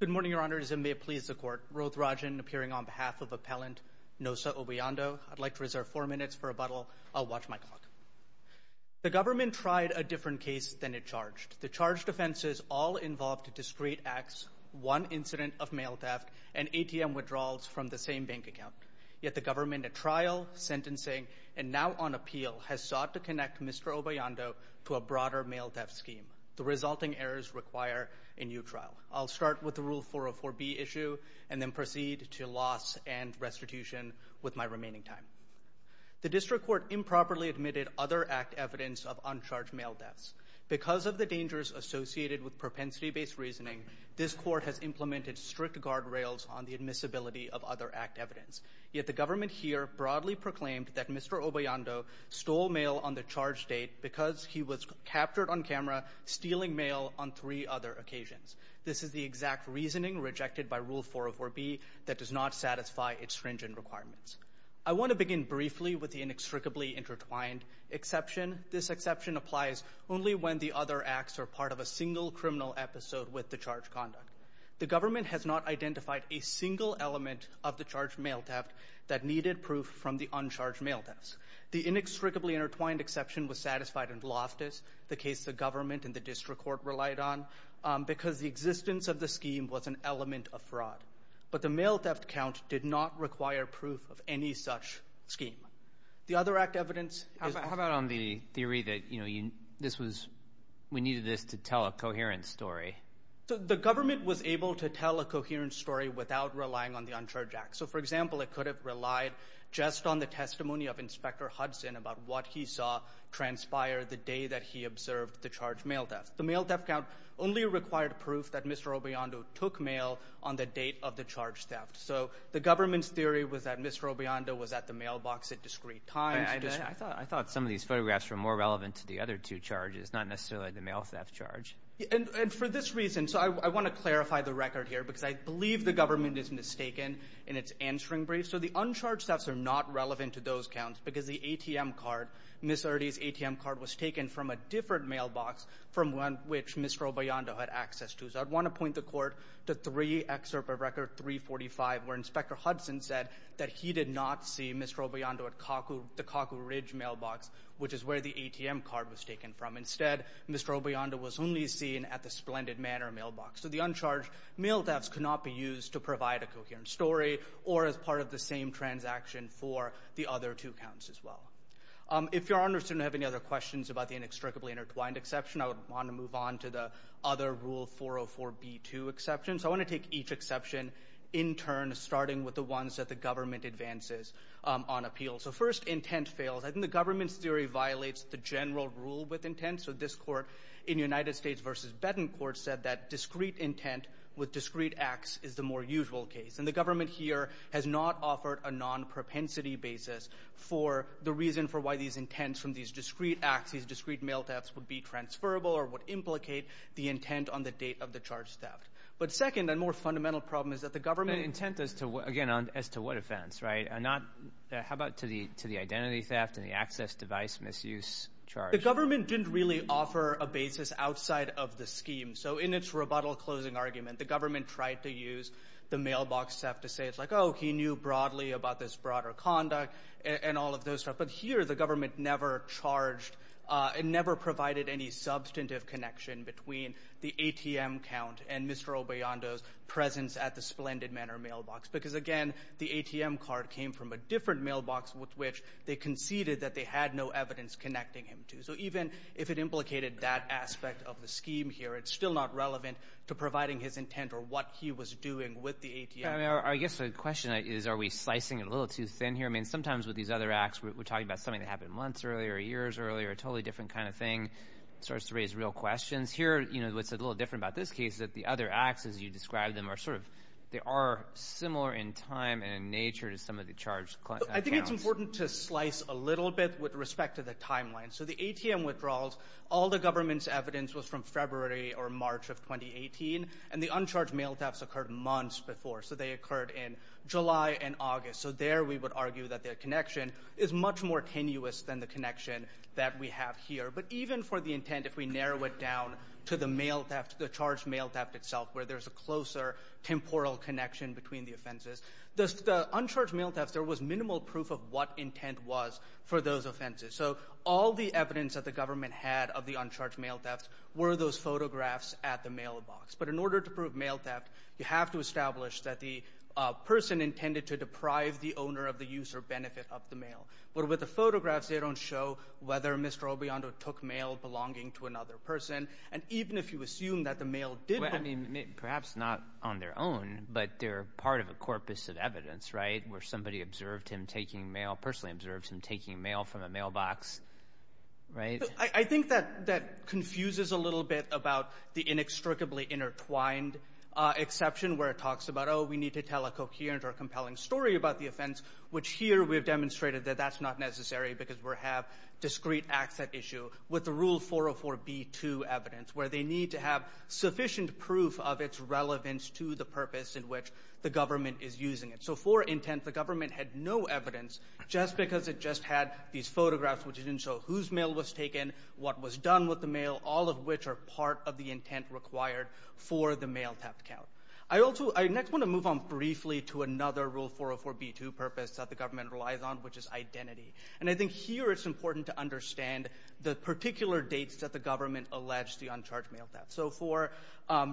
Good morning, Your Honors, and may it please the Court. Roth Rajan, appearing on behalf of Appellant Nosa Obayando, I'd like to reserve four minutes for rebuttal. I'll watch my clock. The government tried a different case than it charged. The charged offenses all involved discrete acts, one incident of mail theft, and ATM withdrawals from the same bank account. Yet the government, at trial, sentencing, and now on appeal, has sought to connect Mr. Obayando to a broader mail theft scheme. The resulting errors require a new trial. I'll start with the Rule 404B issue and then proceed to loss and restitution with my remaining time. The district court improperly admitted other act evidence of uncharged mail thefts. Because of the dangers associated with propensity-based reasoning, this court has implemented strict guardrails on the admissibility of other act evidence. Yet the government here broadly proclaimed that Mr. Obayando stole mail on the charge date because he was captured on camera stealing mail on three other occasions. This is the exact reasoning rejected by Rule 404B that does not satisfy its stringent requirements. I want to begin briefly with the inextricably intertwined exception. This exception applies only when the other acts are part of a single criminal episode with the charged conduct. The government has not identified a single element of the charged mail theft that needed proof from the uncharged mail thefts. The inextricably intertwined exception was satisfied in Loftus, the case the government and the district court relied on, because the existence of the scheme was an element of fraud. But the mail theft count did not require proof of any such scheme. The other act evidence is- How about on the theory that we needed this to tell a coherent story? The government was able to tell a coherent story without relying on the Uncharged Act. So, for example, it could have relied just on the testimony of Inspector Hudson about what he saw transpire the day that he observed the charged mail theft. The mail theft count only required proof that Mr. Obayando took mail on the date of the charged theft. So the government's theory was that Mr. Obayando was at the mailbox at discrete times. I thought some of these photographs were more relevant to the other two charges, not necessarily the mail theft charge. And for this reason, so I want to clarify the record here, because I believe the government is mistaken in its answering brief. So the uncharged thefts are not relevant to those counts, because the ATM card, Ms. Erte's ATM card was taken from a different mailbox from which Mr. Obayando had access to. So I want to point the court to three excerpt of Record 345, where Inspector Hudson said that he did not see Mr. Obayando at the Cocco Ridge mailbox, which is where the ATM card was taken from. Instead, Mr. Obayando was only seen at the Splendid Manor mailbox. So the uncharged mail thefts could not be used to provide a coherent story or as part of the same transaction for the other two counts as well. If Your Honors don't have any other questions about the inextricably intertwined exception, I would want to move on to the other Rule 404b2 exception. So I want to take each exception in turn, starting with the ones that the government advances on appeal. So first, intent fails. I think the government's theory violates the general rule with intent. So this court in United States v. Bettencourt said that discrete intent with discrete acts is the more usual case. And the government here has not offered a non-propensity basis for the reason for why these intents from these discrete acts, these discrete mail thefts, would be transferable or would implicate the intent on the date of the charged theft. But second, a more fundamental problem is that the government – But intent is to – again, as to what offense, right? How about to the identity theft and the access device misuse charge? The government didn't really offer a basis outside of the scheme. So in its rebuttal closing argument, the government tried to use the mailbox theft to say it's like, oh, he knew broadly about this broader conduct and all of those stuff. But here, the government never charged – it never provided any substantive connection between the ATM count and Mr. Obeyondo's presence at the Splendid Manor mailbox. Because again, the ATM card came from a different mailbox with which they conceded that they had no evidence connecting him to. So even if it implicated that aspect of the scheme here, it's still not relevant to providing his intent or what he was doing with the ATM. I mean, I guess the question is, are we slicing it a little too thin here? I mean, sometimes with these other acts, we're talking about something that happened months earlier, years earlier, a totally different kind of thing. It starts to raise real questions. Here, you know, what's a little different about this case is that the other acts, as you described them, are sort of – they are similar in time and in nature to some of the charged accounts. I think it's important to slice a little bit with respect to the timeline. So the ATM withdrawals, all the government's evidence was from February or March of 2018, and the uncharged mail thefts occurred months before. So they occurred in July and August. So there we would argue that their connection is much more tenuous than the connection that we have here. But even for the intent, if we narrow it down to the mail theft, the charged mail theft itself where there's a closer temporal connection between the offenses, the uncharged mail thefts, there was minimal proof of what intent was for those offenses. So all the evidence that the government had of the uncharged mail thefts were those photographs at the mailbox. But in order to prove mail theft, you have to establish that the person intended to deprive the owner of the use or benefit of the mail. But with the photographs, they don't show whether Mr. Obiondo took mail belonging to another person. And even if you assume that the mail did – Well, I mean, perhaps not on their own, but they're part of a corpus of evidence, right, where somebody observed him taking mail, personally observed him taking mail from a mailbox, right? I think that confuses a little bit about the inextricably intertwined exception where it talks about, oh, we need to tell a coherent or compelling story about the offense, which here we have demonstrated that that's not necessary because we have discrete acts at issue with the Rule 404b2 evidence, where they need to have sufficient proof of its relevance to the purpose in which the government is using it. So for intent, the government had no evidence just because it just had these photographs which didn't show whose mail was taken, what was done with the mail, all of which are part of the intent required for the mail theft count. I also – I next want to move on briefly to another Rule 404b2 purpose that the government relies on, which is identity. And I think here it's important to understand the particular dates that the government alleged the uncharged mail theft. So for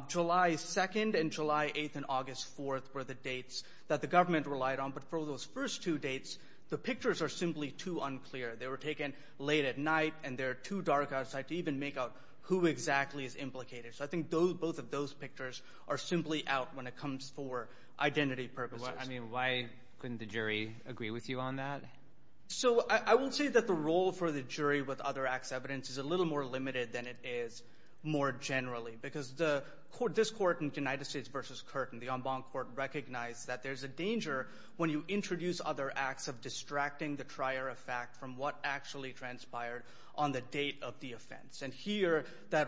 July 2nd and July 8th and August 4th were the dates that the government relied on. But for those first two dates, the pictures are simply too unclear. They were taken late at night, and they're too dark outside to even make out who exactly is implicated. So I think those – both of those pictures are simply out when it comes for identity purposes. I mean, why couldn't the jury agree with you on that? So I will say that the role for the jury with other acts evidence is a little more limited than it is more generally, because the – this Court in United States v. Curtin, the en banc Court, recognized that there's a danger when you introduce other acts of distracting the trier of fact from what actually transpired on the date of the offense. And here that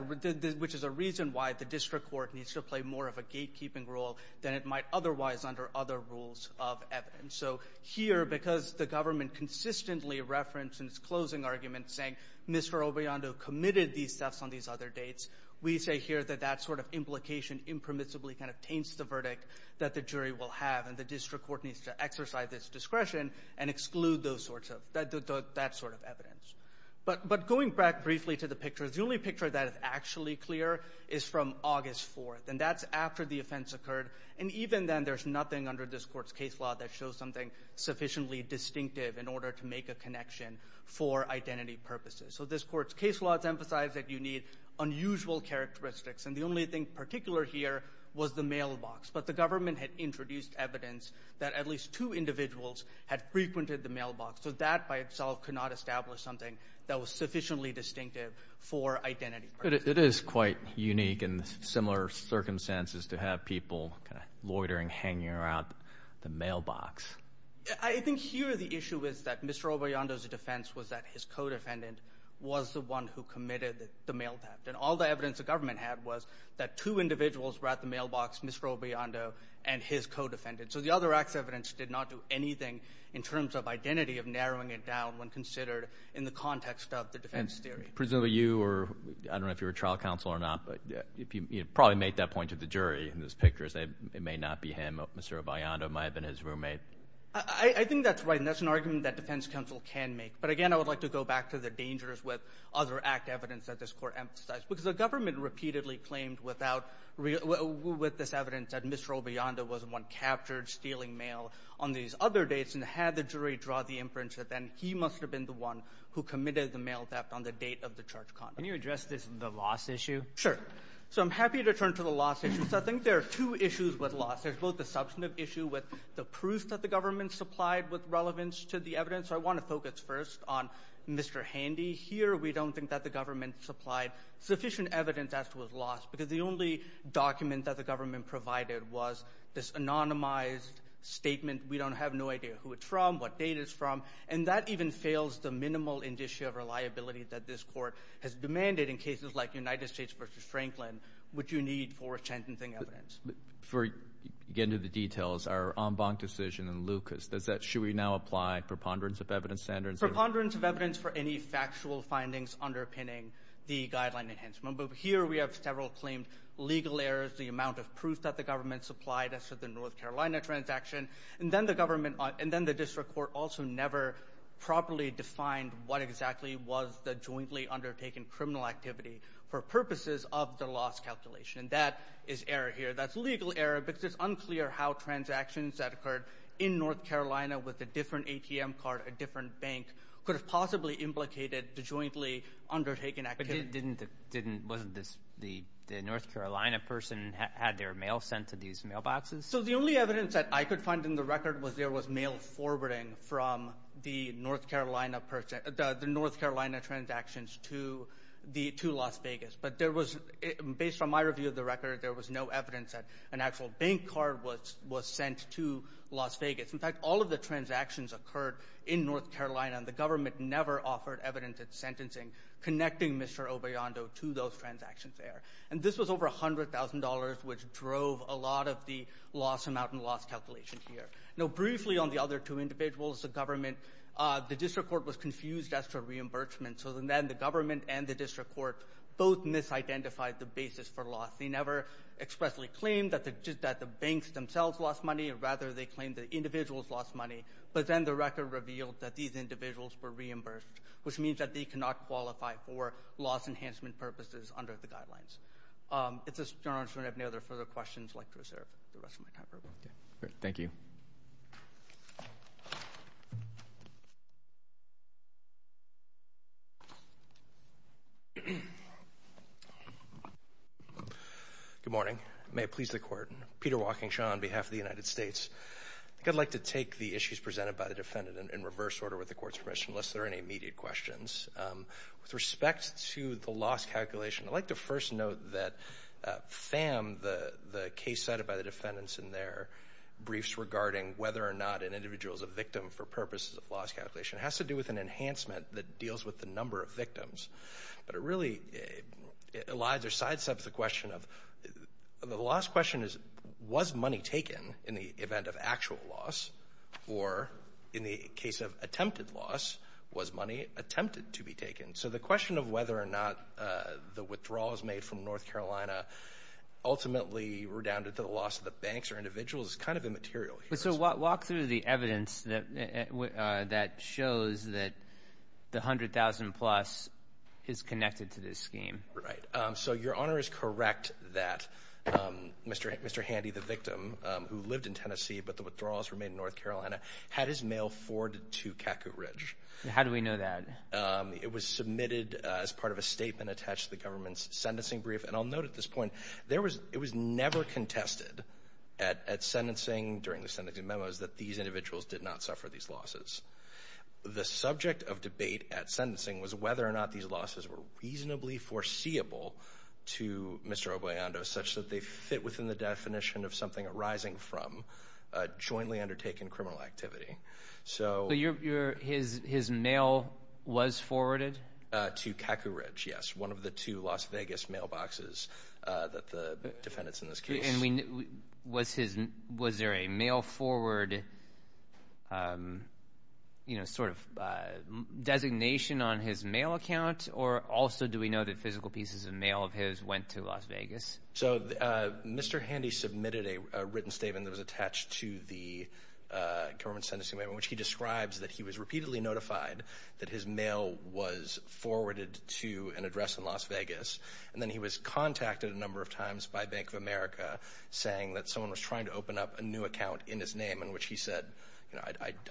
– which is a reason why the district court needs to play more of a gatekeeping role than it might otherwise under other rules of evidence. So here, because the government consistently referenced in its closing argument saying Mr. Obriondo committed these thefts on these other dates, we say here that that sort of implication impermissibly kind of taints the verdict that the jury will have, and the district court needs to exercise its discretion and exclude those sorts of – that sort of evidence. But going back briefly to the pictures, the only picture that is actually clear is from August 4th, and that's after the offense occurred. And even then, there's nothing under this Court's case law that shows something sufficiently distinctive in order to make a connection for identity purposes. So this Court's case law has emphasized that you need unusual characteristics, and the only thing particular here was the mailbox. But the government had introduced evidence that at least two individuals had frequented the mailbox. So that by itself could not establish something that was sufficiently distinctive for identity purposes. But it is quite unique in similar circumstances to have people kind of loitering, hanging around the mailbox. I think here the issue is that Mr. Obriondo's defense was that his co-defendant was the one who committed the mail theft. And all the evidence the government had was that two individuals were at the mailbox, Mr. Obriondo and his co-defendant. So the other acts of evidence did not do anything in terms of identity of narrowing it down when considered in the context of the defense theory. Presumably you were – I don't know if you were trial counsel or not, but you probably made that point to the jury in those pictures. It may not be him. Mr. Obriondo might have been his roommate. I think that's right, and that's an argument that defense counsel can make. But again, I would like to go back to the dangers with other act evidence that this Court emphasized. Because the government repeatedly claimed without – with this evidence that Mr. Obriondo was the one captured stealing mail on these other dates, and had the jury draw the inference that then he must have been the one who committed the mail theft on the date of the charge conduct. Can you address this – the loss issue? Sure. So I'm happy to turn to the loss issue. So I think there are two issues with loss. There's both the substantive issue with the proof that the government supplied with relevance to the evidence. So I want to focus first on Mr. Handy. Here we don't think that the government supplied sufficient evidence as to his loss. Because the only document that the government provided was this anonymized statement. We don't have no idea who it's from, what date it's from. And that even fails the minimal indicia of reliability that this Court has demanded in cases like United States v. Franklin, which you need for sentencing evidence. Before you get into the details, our en banc decision in Lucas, does that – should we now apply preponderance of evidence standards? Preponderance of evidence for any factual findings underpinning the guideline enhancement. But here we have several claimed legal errors, the amount of proof that the government supplied as to the North Carolina transaction. And then the government – and then the district court also never properly defined what exactly was the jointly undertaken criminal activity for purposes of the loss calculation. And that is error here. That's legal error because it's unclear how transactions that occurred in North Carolina with a different ATM card, a different bank, could have possibly implicated the jointly undertaken activity. But didn't – wasn't this – the North Carolina person had their mail sent to these mailboxes? So the only evidence that I could find in the record was there was mail forwarding from the North Carolina – the North Carolina transactions to the – to Las Vegas. But there was – based on my review of the record, there was no evidence that an actual bank card was sent to Las Vegas. In fact, all of the transactions occurred in North Carolina, and the government never offered evidence at sentencing connecting Mr. Obeyando to those transactions there. And this was over $100,000, which drove a lot of the loss amount and loss calculation here. Now, briefly on the other two individuals, the government – the district court was confused as to reimbursement. So then the government and the district court both misidentified the basis for loss. They never expressly claimed that the – just that the banks themselves lost money. Rather, they claimed the individuals lost money. But then the record revealed that these individuals were reimbursed, which means that they cannot qualify for loss enhancement purposes under the guidelines. It's a – I'm not sure if you have any other further questions. I'd like to reserve the rest of my time for everyone. Thank you. Good morning. May it please the Court. Peter Walkingshaw on behalf of the United States. I think I'd like to take the issues presented by the defendant in reverse order with the Court's permission, unless there are any immediate questions. With respect to the loss calculation, I'd like to first note that FAM, the case cited by the defendants in their briefs regarding whether or not an individual is a victim for purposes of loss calculation, has to do with an enhancement that deals with the number of victims. But it really elides or sidesteps the question of – the last question is, was money taken in the event of actual loss, or in the case of attempted loss, was money attempted to be taken? So the question of whether or not the withdrawal was made from North Carolina ultimately redounded to the loss of the banks or individuals is kind of immaterial here. So walk through the evidence that shows that the $100,000-plus is connected to this scheme. Right. So your Honor is correct that Mr. Handy, the victim, who lived in Tennessee but the withdrawals were made in North Carolina, had his mail forwarded to Catcoot Ridge. How do we know that? It was submitted as part of a statement attached to the government's sentencing brief. And I'll note at this point, it was never contested at sentencing, during the sentencing memos, that these individuals did not suffer these losses. The subject of debate at sentencing was whether or not these losses were reasonably foreseeable to Mr. Obeyondo, such that they fit within the definition of something arising from jointly undertaken criminal activity. So his mail was forwarded? To Catcoot Ridge, yes. To one of the two Las Vegas mailboxes that the defendants in this case. Was there a mail forward, you know, sort of designation on his mail account? Or also do we know that physical pieces of mail of his went to Las Vegas? So Mr. Handy submitted a written statement that was attached to the government's sentencing brief, in which he describes that he was repeatedly notified that his mail was forwarded to an address in Las Vegas. And then he was contacted a number of times by Bank of America, saying that someone was trying to open up a new account in his name, in which he said, you know,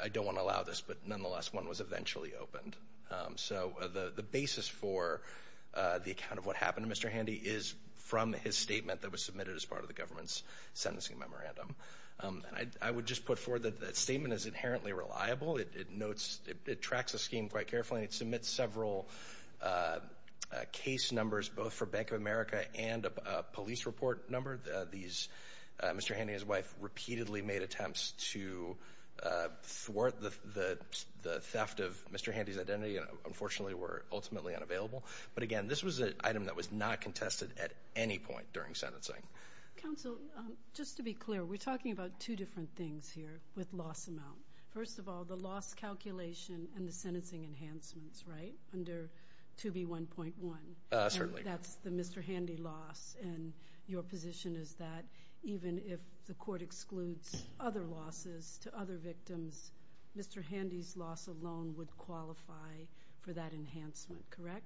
I don't want to allow this. But nonetheless, one was eventually opened. So the basis for the account of what happened to Mr. Handy is from his statement that was submitted as part of the government's sentencing memorandum. I would just put forward that that statement is inherently reliable. It notes, it tracks the scheme quite carefully. And then it submits several case numbers, both for Bank of America and a police report number. These, Mr. Handy and his wife repeatedly made attempts to thwart the theft of Mr. Handy's identity and unfortunately were ultimately unavailable. But again, this was an item that was not contested at any point during sentencing. Counsel, just to be clear, we're talking about two different things here with loss amount. First of all, the loss calculation and the sentencing enhancements, right? Under 2B1.1. Certainly. And that's the Mr. Handy loss, and your position is that even if the court excludes other losses to other victims, Mr. Handy's loss alone would qualify for that enhancement, correct?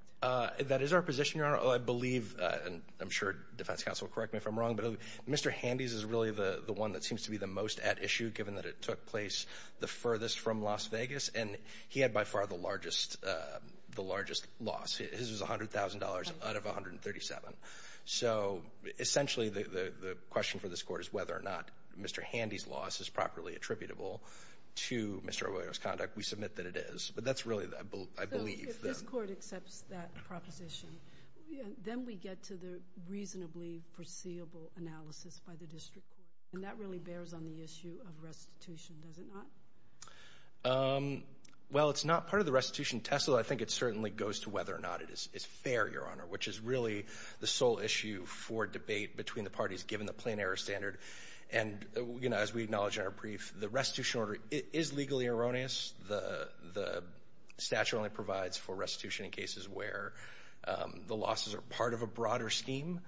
That is our position, Your Honor. I believe, and I'm sure defense counsel will correct me if I'm wrong, but Mr. Handy's is really the one that seems to be the most at issue, given that it took place the furthest from Las Vegas. And he had by far the largest loss. His was $100,000 out of $137,000. So essentially, the question for this court is whether or not Mr. Handy's loss is properly attributable to Mr. O'Rourke's conduct. We submit that it is. But that's really, I believe. So if this court accepts that proposition, then we get to the reasonably foreseeable analysis by the district court. And that really bears on the issue of restitution, does it not? Well, it's not part of the restitution test. I think it certainly goes to whether or not it is fair, Your Honor, which is really the sole issue for debate between the parties, given the plain error standard. And as we acknowledge in our brief, the restitution order is legally erroneous. The statute only provides for restitution in cases where the losses are part of a broader scheme.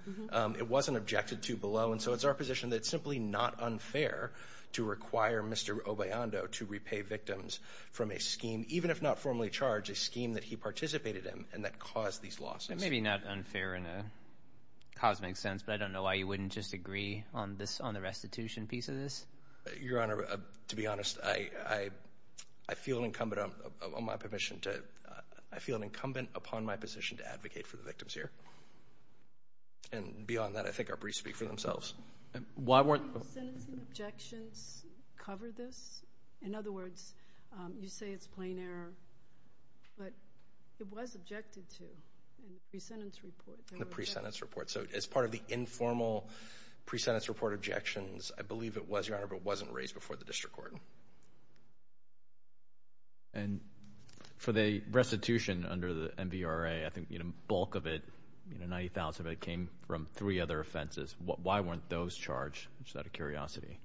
It wasn't objected to below. And so it's our position that it's simply not unfair to require Mr. Obeyando to repay victims from a scheme, even if not formally charged, a scheme that he participated in and that caused these losses. It may be not unfair in a cosmic sense, but I don't know why you wouldn't just agree on this, on the restitution piece of this. Your Honor, to be honest, I feel an incumbent, on my permission to, I feel an incumbent upon my position to advocate for the victims here. And beyond that, I think our briefs speak for themselves. Why weren't... Didn't the sentencing objections cover this? In other words, you say it's plain error, but it was objected to in the pre-sentence report. The pre-sentence report. So as part of the informal pre-sentence report objections, I believe it was, Your Honor, but wasn't raised before the district court. And for the restitution under the MVRA, I think, you know, bulk of it, you know, 90,000 of it came from three other offenses. Why weren't those charged, just out of curiosity?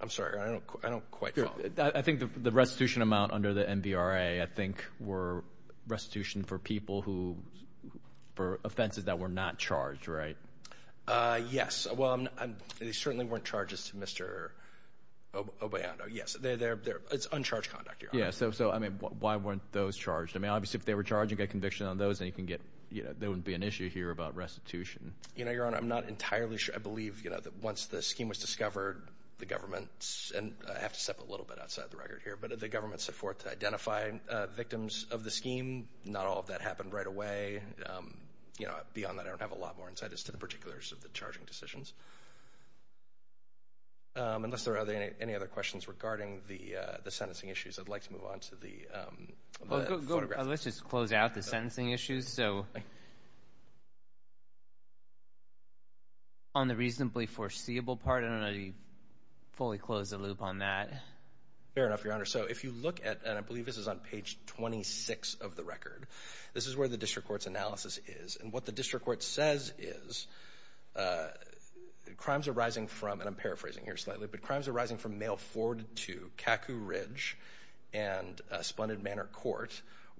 I'm sorry, I don't quite follow. I think the restitution amount under the MVRA, I think, were restitution for people who, for offenses that were not charged, right? Yes. Well, they certainly weren't charges to Mr. Obeyando. Yes, it's uncharged conduct, Your Honor. Yeah, so, I mean, why weren't those charged? I mean, obviously, if they were charged, you get conviction on those, and you can get, you know, there wouldn't be an issue here about restitution. You know, Your Honor, I'm not entirely sure. I believe, you know, that once the scheme was discovered, the government, and I have to step a little bit outside the record here, but the government set forth to identify victims of the scheme. Not all of that happened right away. You know, beyond that, I don't have a lot more insight as to the particulars of the decisions. Unless there are any other questions regarding the sentencing issues, I'd like to move on to the photograph. Well, let's just close out the sentencing issues, so, on the reasonably foreseeable part, I don't know if you fully closed the loop on that. Fair enough, Your Honor. So, if you look at, and I believe this is on page 26 of the record, this is where the crimes arising from, and I'm paraphrasing here slightly, but crimes arising from mail forwarded to Kaku Ridge and Splendid Manor Court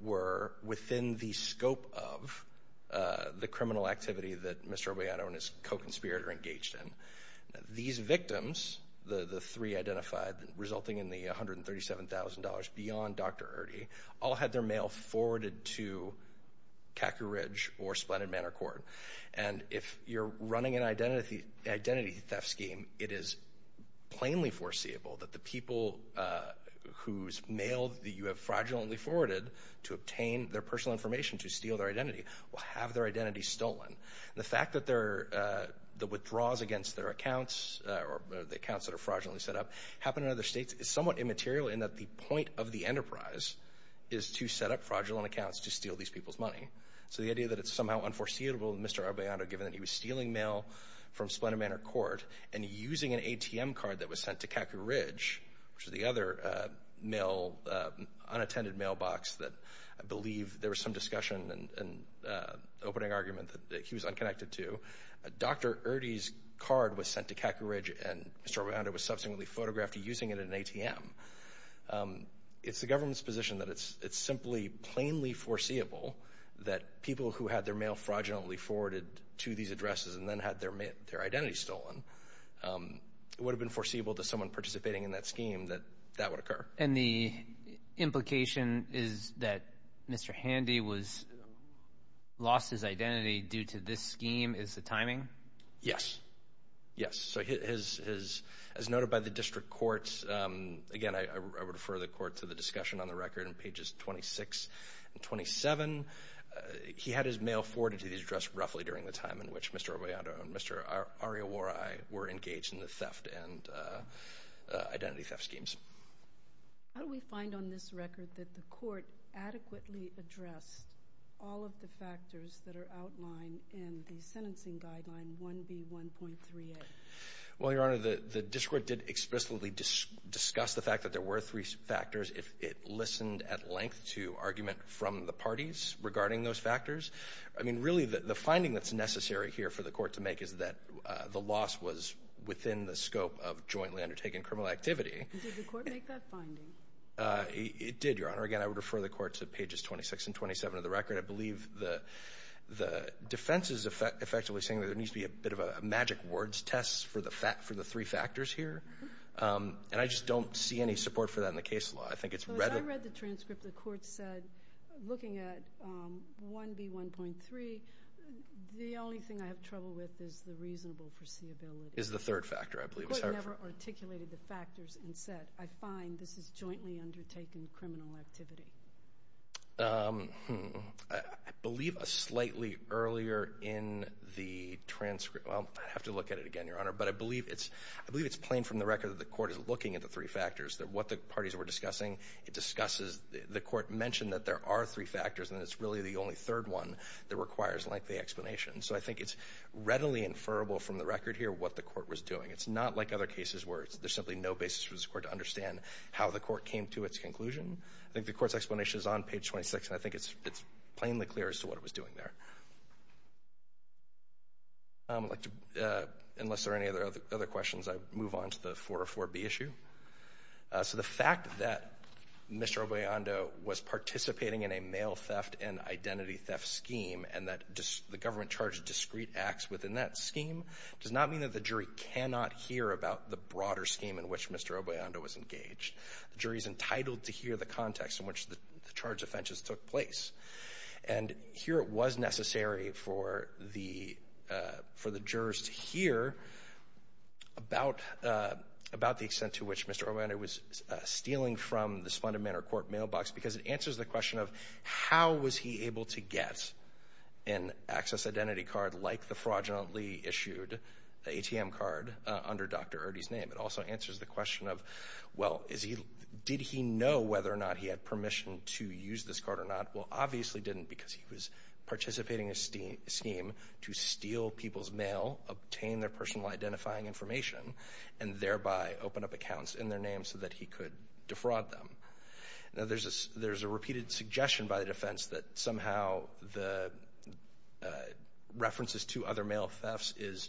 were within the scope of the criminal activity that Mr. Obeyato and his co-conspirator engaged in. These victims, the three identified, resulting in the $137,000 beyond Dr. Erte, all had their mail forwarded to Kaku Ridge or Splendid Manor Court. And if you're running an identity theft scheme, it is plainly foreseeable that the people whose mail that you have fraudulently forwarded to obtain their personal information to steal their identity will have their identity stolen. The fact that the withdrawals against their accounts, or the accounts that are fraudulently set up, happen in other states is somewhat immaterial in that the point of the enterprise is to set up fraudulent accounts to steal these people's money. So the idea that it's somehow unforeseeable that Mr. Obeyato, given that he was stealing mail from Splendid Manor Court and using an ATM card that was sent to Kaku Ridge, which was the other mail, unattended mailbox that I believe there was some discussion and opening argument that he was unconnected to, Dr. Erte's card was sent to Kaku Ridge and Mr. Obeyato was subsequently photographed using it at an ATM. It's the government's position that it's simply plainly foreseeable that people who had their mail fraudulently forwarded to these addresses and then had their identity stolen, it would have been foreseeable to someone participating in that scheme that that would occur. And the implication is that Mr. Handy lost his identity due to this scheme? Is the timing? Yes. Yes. Okay. So as noted by the district courts, again, I would refer the court to the discussion on the record on pages 26 and 27. He had his mail forwarded to these addresses roughly during the time in which Mr. Obeyato and Mr. Ariyaworai were engaged in the theft and identity theft schemes. How do we find on this record that the court adequately addressed all of the factors that the district court did explicitly discuss the fact that there were three factors if it listened at length to argument from the parties regarding those factors? I mean, really, the finding that's necessary here for the court to make is that the loss was within the scope of jointly undertaken criminal activity. Did the court make that finding? It did, Your Honor. Again, I would refer the court to pages 26 and 27 of the record. I believe the defense is effectively saying that there needs to be a bit of a magic words test for the three factors here, and I just don't see any support for that in the case law. I think it's rather— But I read the transcript. The court said, looking at 1B1.3, the only thing I have trouble with is the reasonable Is the third factor, I believe. It's hard for— The court never articulated the factors and said, I find this is jointly undertaken criminal activity. I believe a slightly earlier in the transcript—well, I have to look at it again, Your Honor. But I believe it's—I believe it's plain from the record that the court is looking at the three factors, that what the parties were discussing, it discusses—the court mentioned that there are three factors, and it's really the only third one that requires lengthy explanation. So I think it's readily inferable from the record here what the court was doing. It's not like other cases where there's simply no basis for this court to understand how the court came to its conclusion. I think the court's explanation is on page 26, and I think it's—it's plainly clear as to what it was doing there. I'd like to—unless there are any other questions, I'd move on to the 404B issue. So the fact that Mr. Obeyando was participating in a male theft and identity theft scheme and that the government charged discrete acts within that scheme does not mean that the jury cannot hear about the broader scheme in which Mr. Obeyando was engaged. The jury is entitled to hear the context in which the charged offenses took place. And here it was necessary for the—for the jurors to hear about—about the extent to which Mr. Obeyando was stealing from the Splendid Manor Court mailbox because it answers the question of how was he able to get an access identity card like the fraudulently issued ATM card under Dr. Erte's name. It also answers the question of, well, is he—did he know whether or not he had permission to use this card or not? Well, obviously didn't because he was participating in a scheme to steal people's mail, obtain their personal identifying information, and thereby open up accounts in their name so that he could defraud them. Now, there's a—there's a repeated suggestion by the defense that somehow the references to other mail thefts is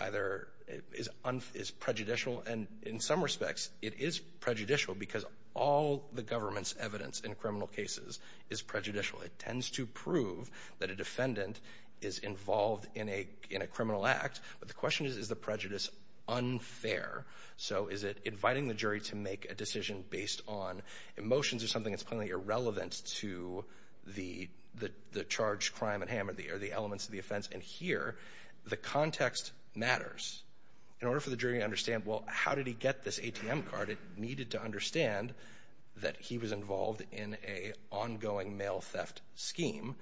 either—is prejudicial, and in some respects it is prejudicial because all the government's evidence in criminal cases is prejudicial. It tends to prove that a defendant is involved in a—in a criminal act, but the question is, is the prejudice unfair? So is it inviting the jury to make a decision based on emotions or something that's plainly here? The context matters. In order for the jury to understand, well, how did he get this ATM card, it needed to understand that he was involved in an ongoing mail theft scheme.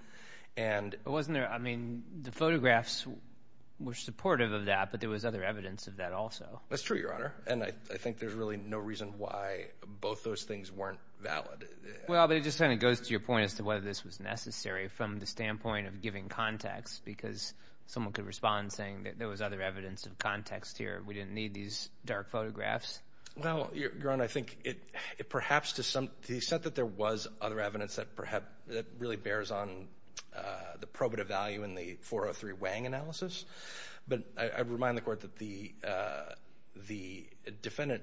And— Wasn't there—I mean, the photographs were supportive of that, but there was other evidence of that also. That's true, Your Honor, and I think there's really no reason why both those things weren't valid. Well, but it just kind of goes to your point as to whether this was necessary from the someone could respond saying that there was other evidence of context here. We didn't need these dark photographs. Well, Your Honor, I think it—perhaps to some—he said that there was other evidence that perhaps—that really bears on the probative value in the 403 Wang analysis, but I remind the Court that the—the defendant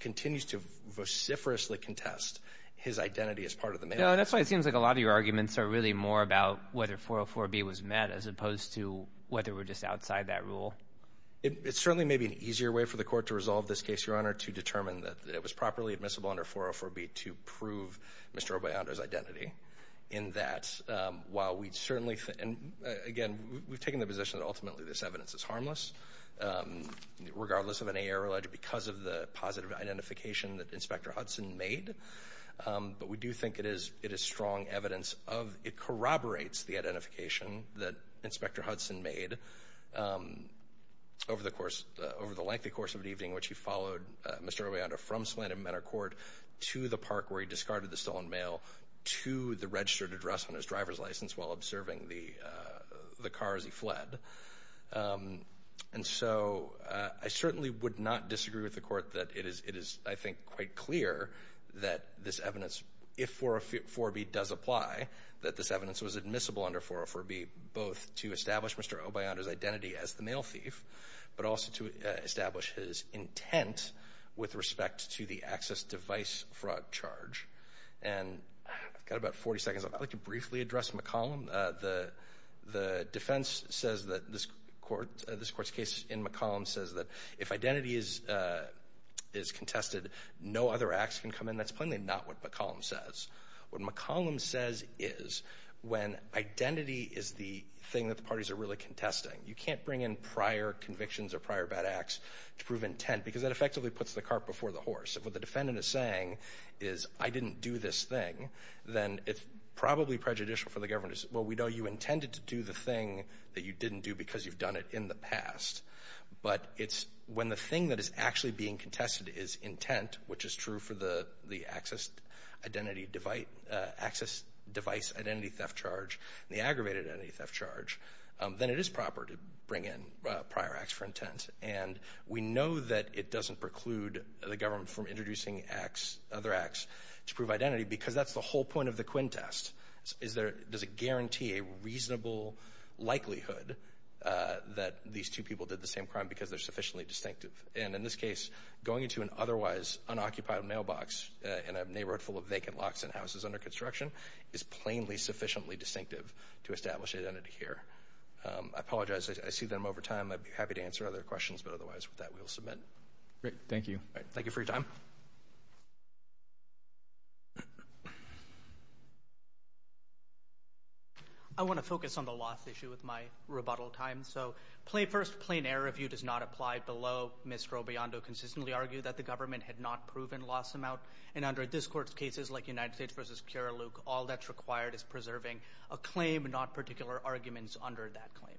continues to vociferously contest his identity as part of the mail theft scheme. No, that's why it seems like a lot of your arguments are really more about whether 404B was met as opposed to whether we're just outside that rule. It certainly may be an easier way for the Court to resolve this case, Your Honor, to determine that it was properly admissible under 404B to prove Mr. Robaillando's identity in that while we'd certainly—and again, we've taken the position that ultimately this evidence is harmless regardless of any error alleged because of the positive identification that Inspector Hudson made, but we do think it is—it is strong evidence of—it corroborates the identification that Inspector Hudson made over the course—over the lengthy course of an evening in which he followed Mr. Robaillando from Slant and Mentor Court to the park where he discarded the stolen mail to the registered address on his driver's license while observing the—the car as he fled. And so I certainly would not disagree with the Court that it is—it is, I think, quite clear that this evidence—if 404B does apply, that this evidence was admissible under 404B both to establish Mr. Robaillando's identity as the mail thief, but also to establish his intent with respect to the access device fraud charge. And I've got about 40 seconds. I'd like to briefly address McCollum. The defense says that this Court's case in McCollum says that if identity is contested, no other acts can come in. That's plainly not what McCollum says. What McCollum says is when identity is the thing that the parties are really contesting, you can't bring in prior convictions or prior bad acts to prove intent because that effectively puts the cart before the horse. If what the defendant is saying is, I didn't do this thing, then it's probably prejudicial for the government to say, well, we know you intended to do the thing that you didn't do because you've done it in the past. But it's when the thing that is actually being contested is intent, which is true for the access device identity theft charge, the aggravated identity theft charge, then it is proper to bring in prior acts for intent. And we know that it doesn't preclude the government from introducing other acts to prove identity because that's the whole point of the Quinn test, is does it guarantee a reasonable likelihood that these two people did the same crime because they're sufficiently distinctive? And in this case, going into an otherwise unoccupied mailbox in a neighborhood full of vacant locks and houses under construction is plainly sufficiently distinctive to establish identity here. I apologize. I see that I'm over time. I'd be happy to answer other questions, but otherwise with that, we will submit. Thank you. Thank you for your time. I want to focus on the loss issue with my rebuttal time. So first, plain error review does not apply below. Ms. Robiondo consistently argued that the government had not proven loss amount. And under this court's cases, like United States v. Kiriluk, all that's required is preserving a claim, not particular arguments under that claim.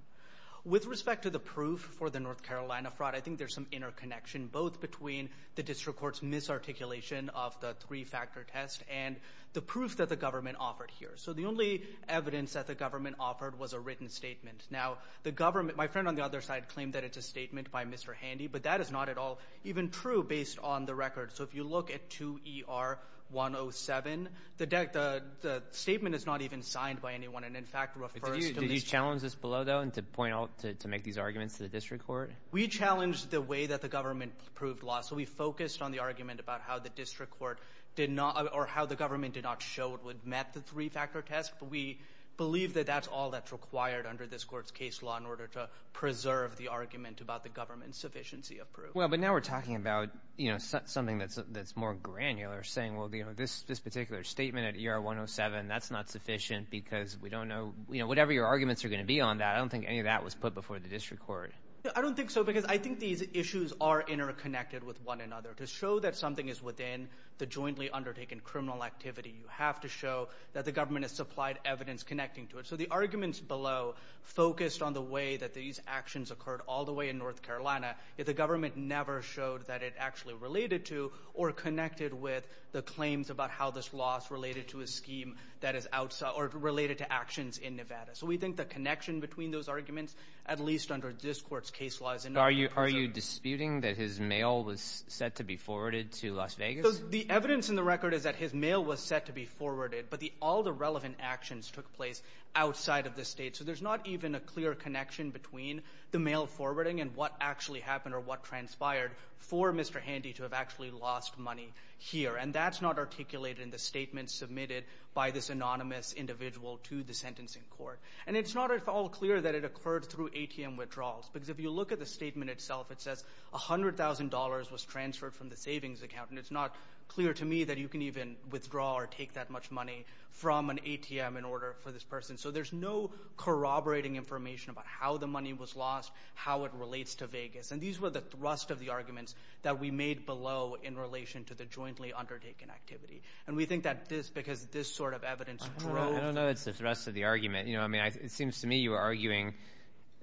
With respect to the proof for the North Carolina fraud, I think there's some interconnection both between the district court's misarticulation of the three-factor test and the proof that the government offered here. So the only evidence that the government offered was a written statement. Now, the government, my friend on the other side claimed that it's a statement by Mr. Handy, but that is not at all even true based on the record. So if you look at 2ER107, the statement is not even signed by anyone and, in fact, refers to Mr. Handy. Did you challenge this below, though, to point out, to make these arguments to the district court? We challenged the way that the government proved loss. So we focused on the argument about how the district court did not, or how the government did not show it would met the three-factor test, but we believe that that's all that's required under this court's case law in order to preserve the argument about the government's sufficiency of proof. Well, but now we're talking about, you know, something that's more granular, saying, well, you know, this particular statement at 2ER107, that's not sufficient because we don't know, you know, whatever your arguments are going to be on that, I don't think any of that was put before the district court. I don't think so because I think these issues are interconnected with one another. To show that something is within the jointly undertaken criminal activity, you have to show that the government has supplied evidence connecting to it. So the arguments below focused on the way that these actions occurred all the way in North Carolina, yet the government never showed that it actually related to or connected with the claims about how this loss related to a scheme that is outside, or related to actions in Nevada. So we think the connection between those arguments, at least under this court's case law, is in order to preserve the argument. But are you disputing that his mail was set to be forwarded to Las Vegas? The evidence in the record is that his mail was set to be forwarded, but the all the relevant actions took place outside of the State. So there's not even a clear connection between the mail forwarding and what actually happened or what transpired for Mr. Handy to have actually lost money here. And that's not articulated in the statement submitted by this anonymous individual to the sentencing court. And it's not at all clear that it occurred through ATM withdrawals, because if you look at the statement itself, it says $100,000 was transferred from the savings account, and it's not clear to me that you can even withdraw or take that much money from an ATM in order for this person. So there's no corroborating information about how the money was lost, how it relates to Vegas. And these were the thrust of the arguments that we made below in relation to the jointly undertaken activity. And we think that this, because this sort of evidence drove— I don't know if it's the thrust of the argument. You know, I mean, it seems to me you were arguing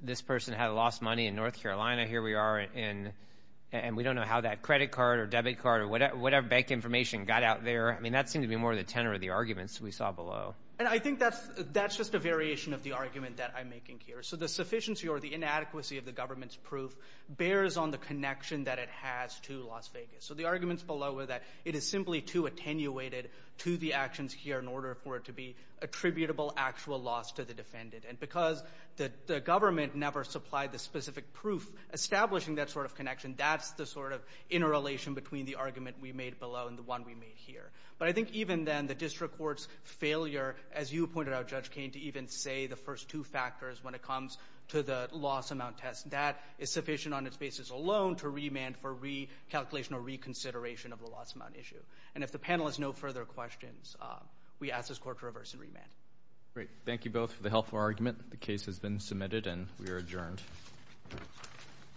this person had lost money in North Carolina. Here we are, and we don't know how that credit card or debit card or whatever bank information got out there. I mean, that seemed to be more the tenor of the arguments we saw below. And I think that's just a variation of the argument that I'm making here. So the sufficiency or the inadequacy of the government's proof bears on the connection that it has to Las Vegas. attributable actual loss to the defendant. And because the government never supplied the specific proof establishing that sort of connection, that's the sort of interrelation between the argument we made below and the one we made here. But I think even then, the district court's failure, as you pointed out, Judge Cain, to even say the first two factors when it comes to the loss amount test, that is sufficient on its basis alone to remand for recalculation or reconsideration of the loss amount issue. And if the panel has no further questions, we ask this Court to reverse and remand. Great. Thank you both for the helpful argument. The case has been submitted, and we are adjourned.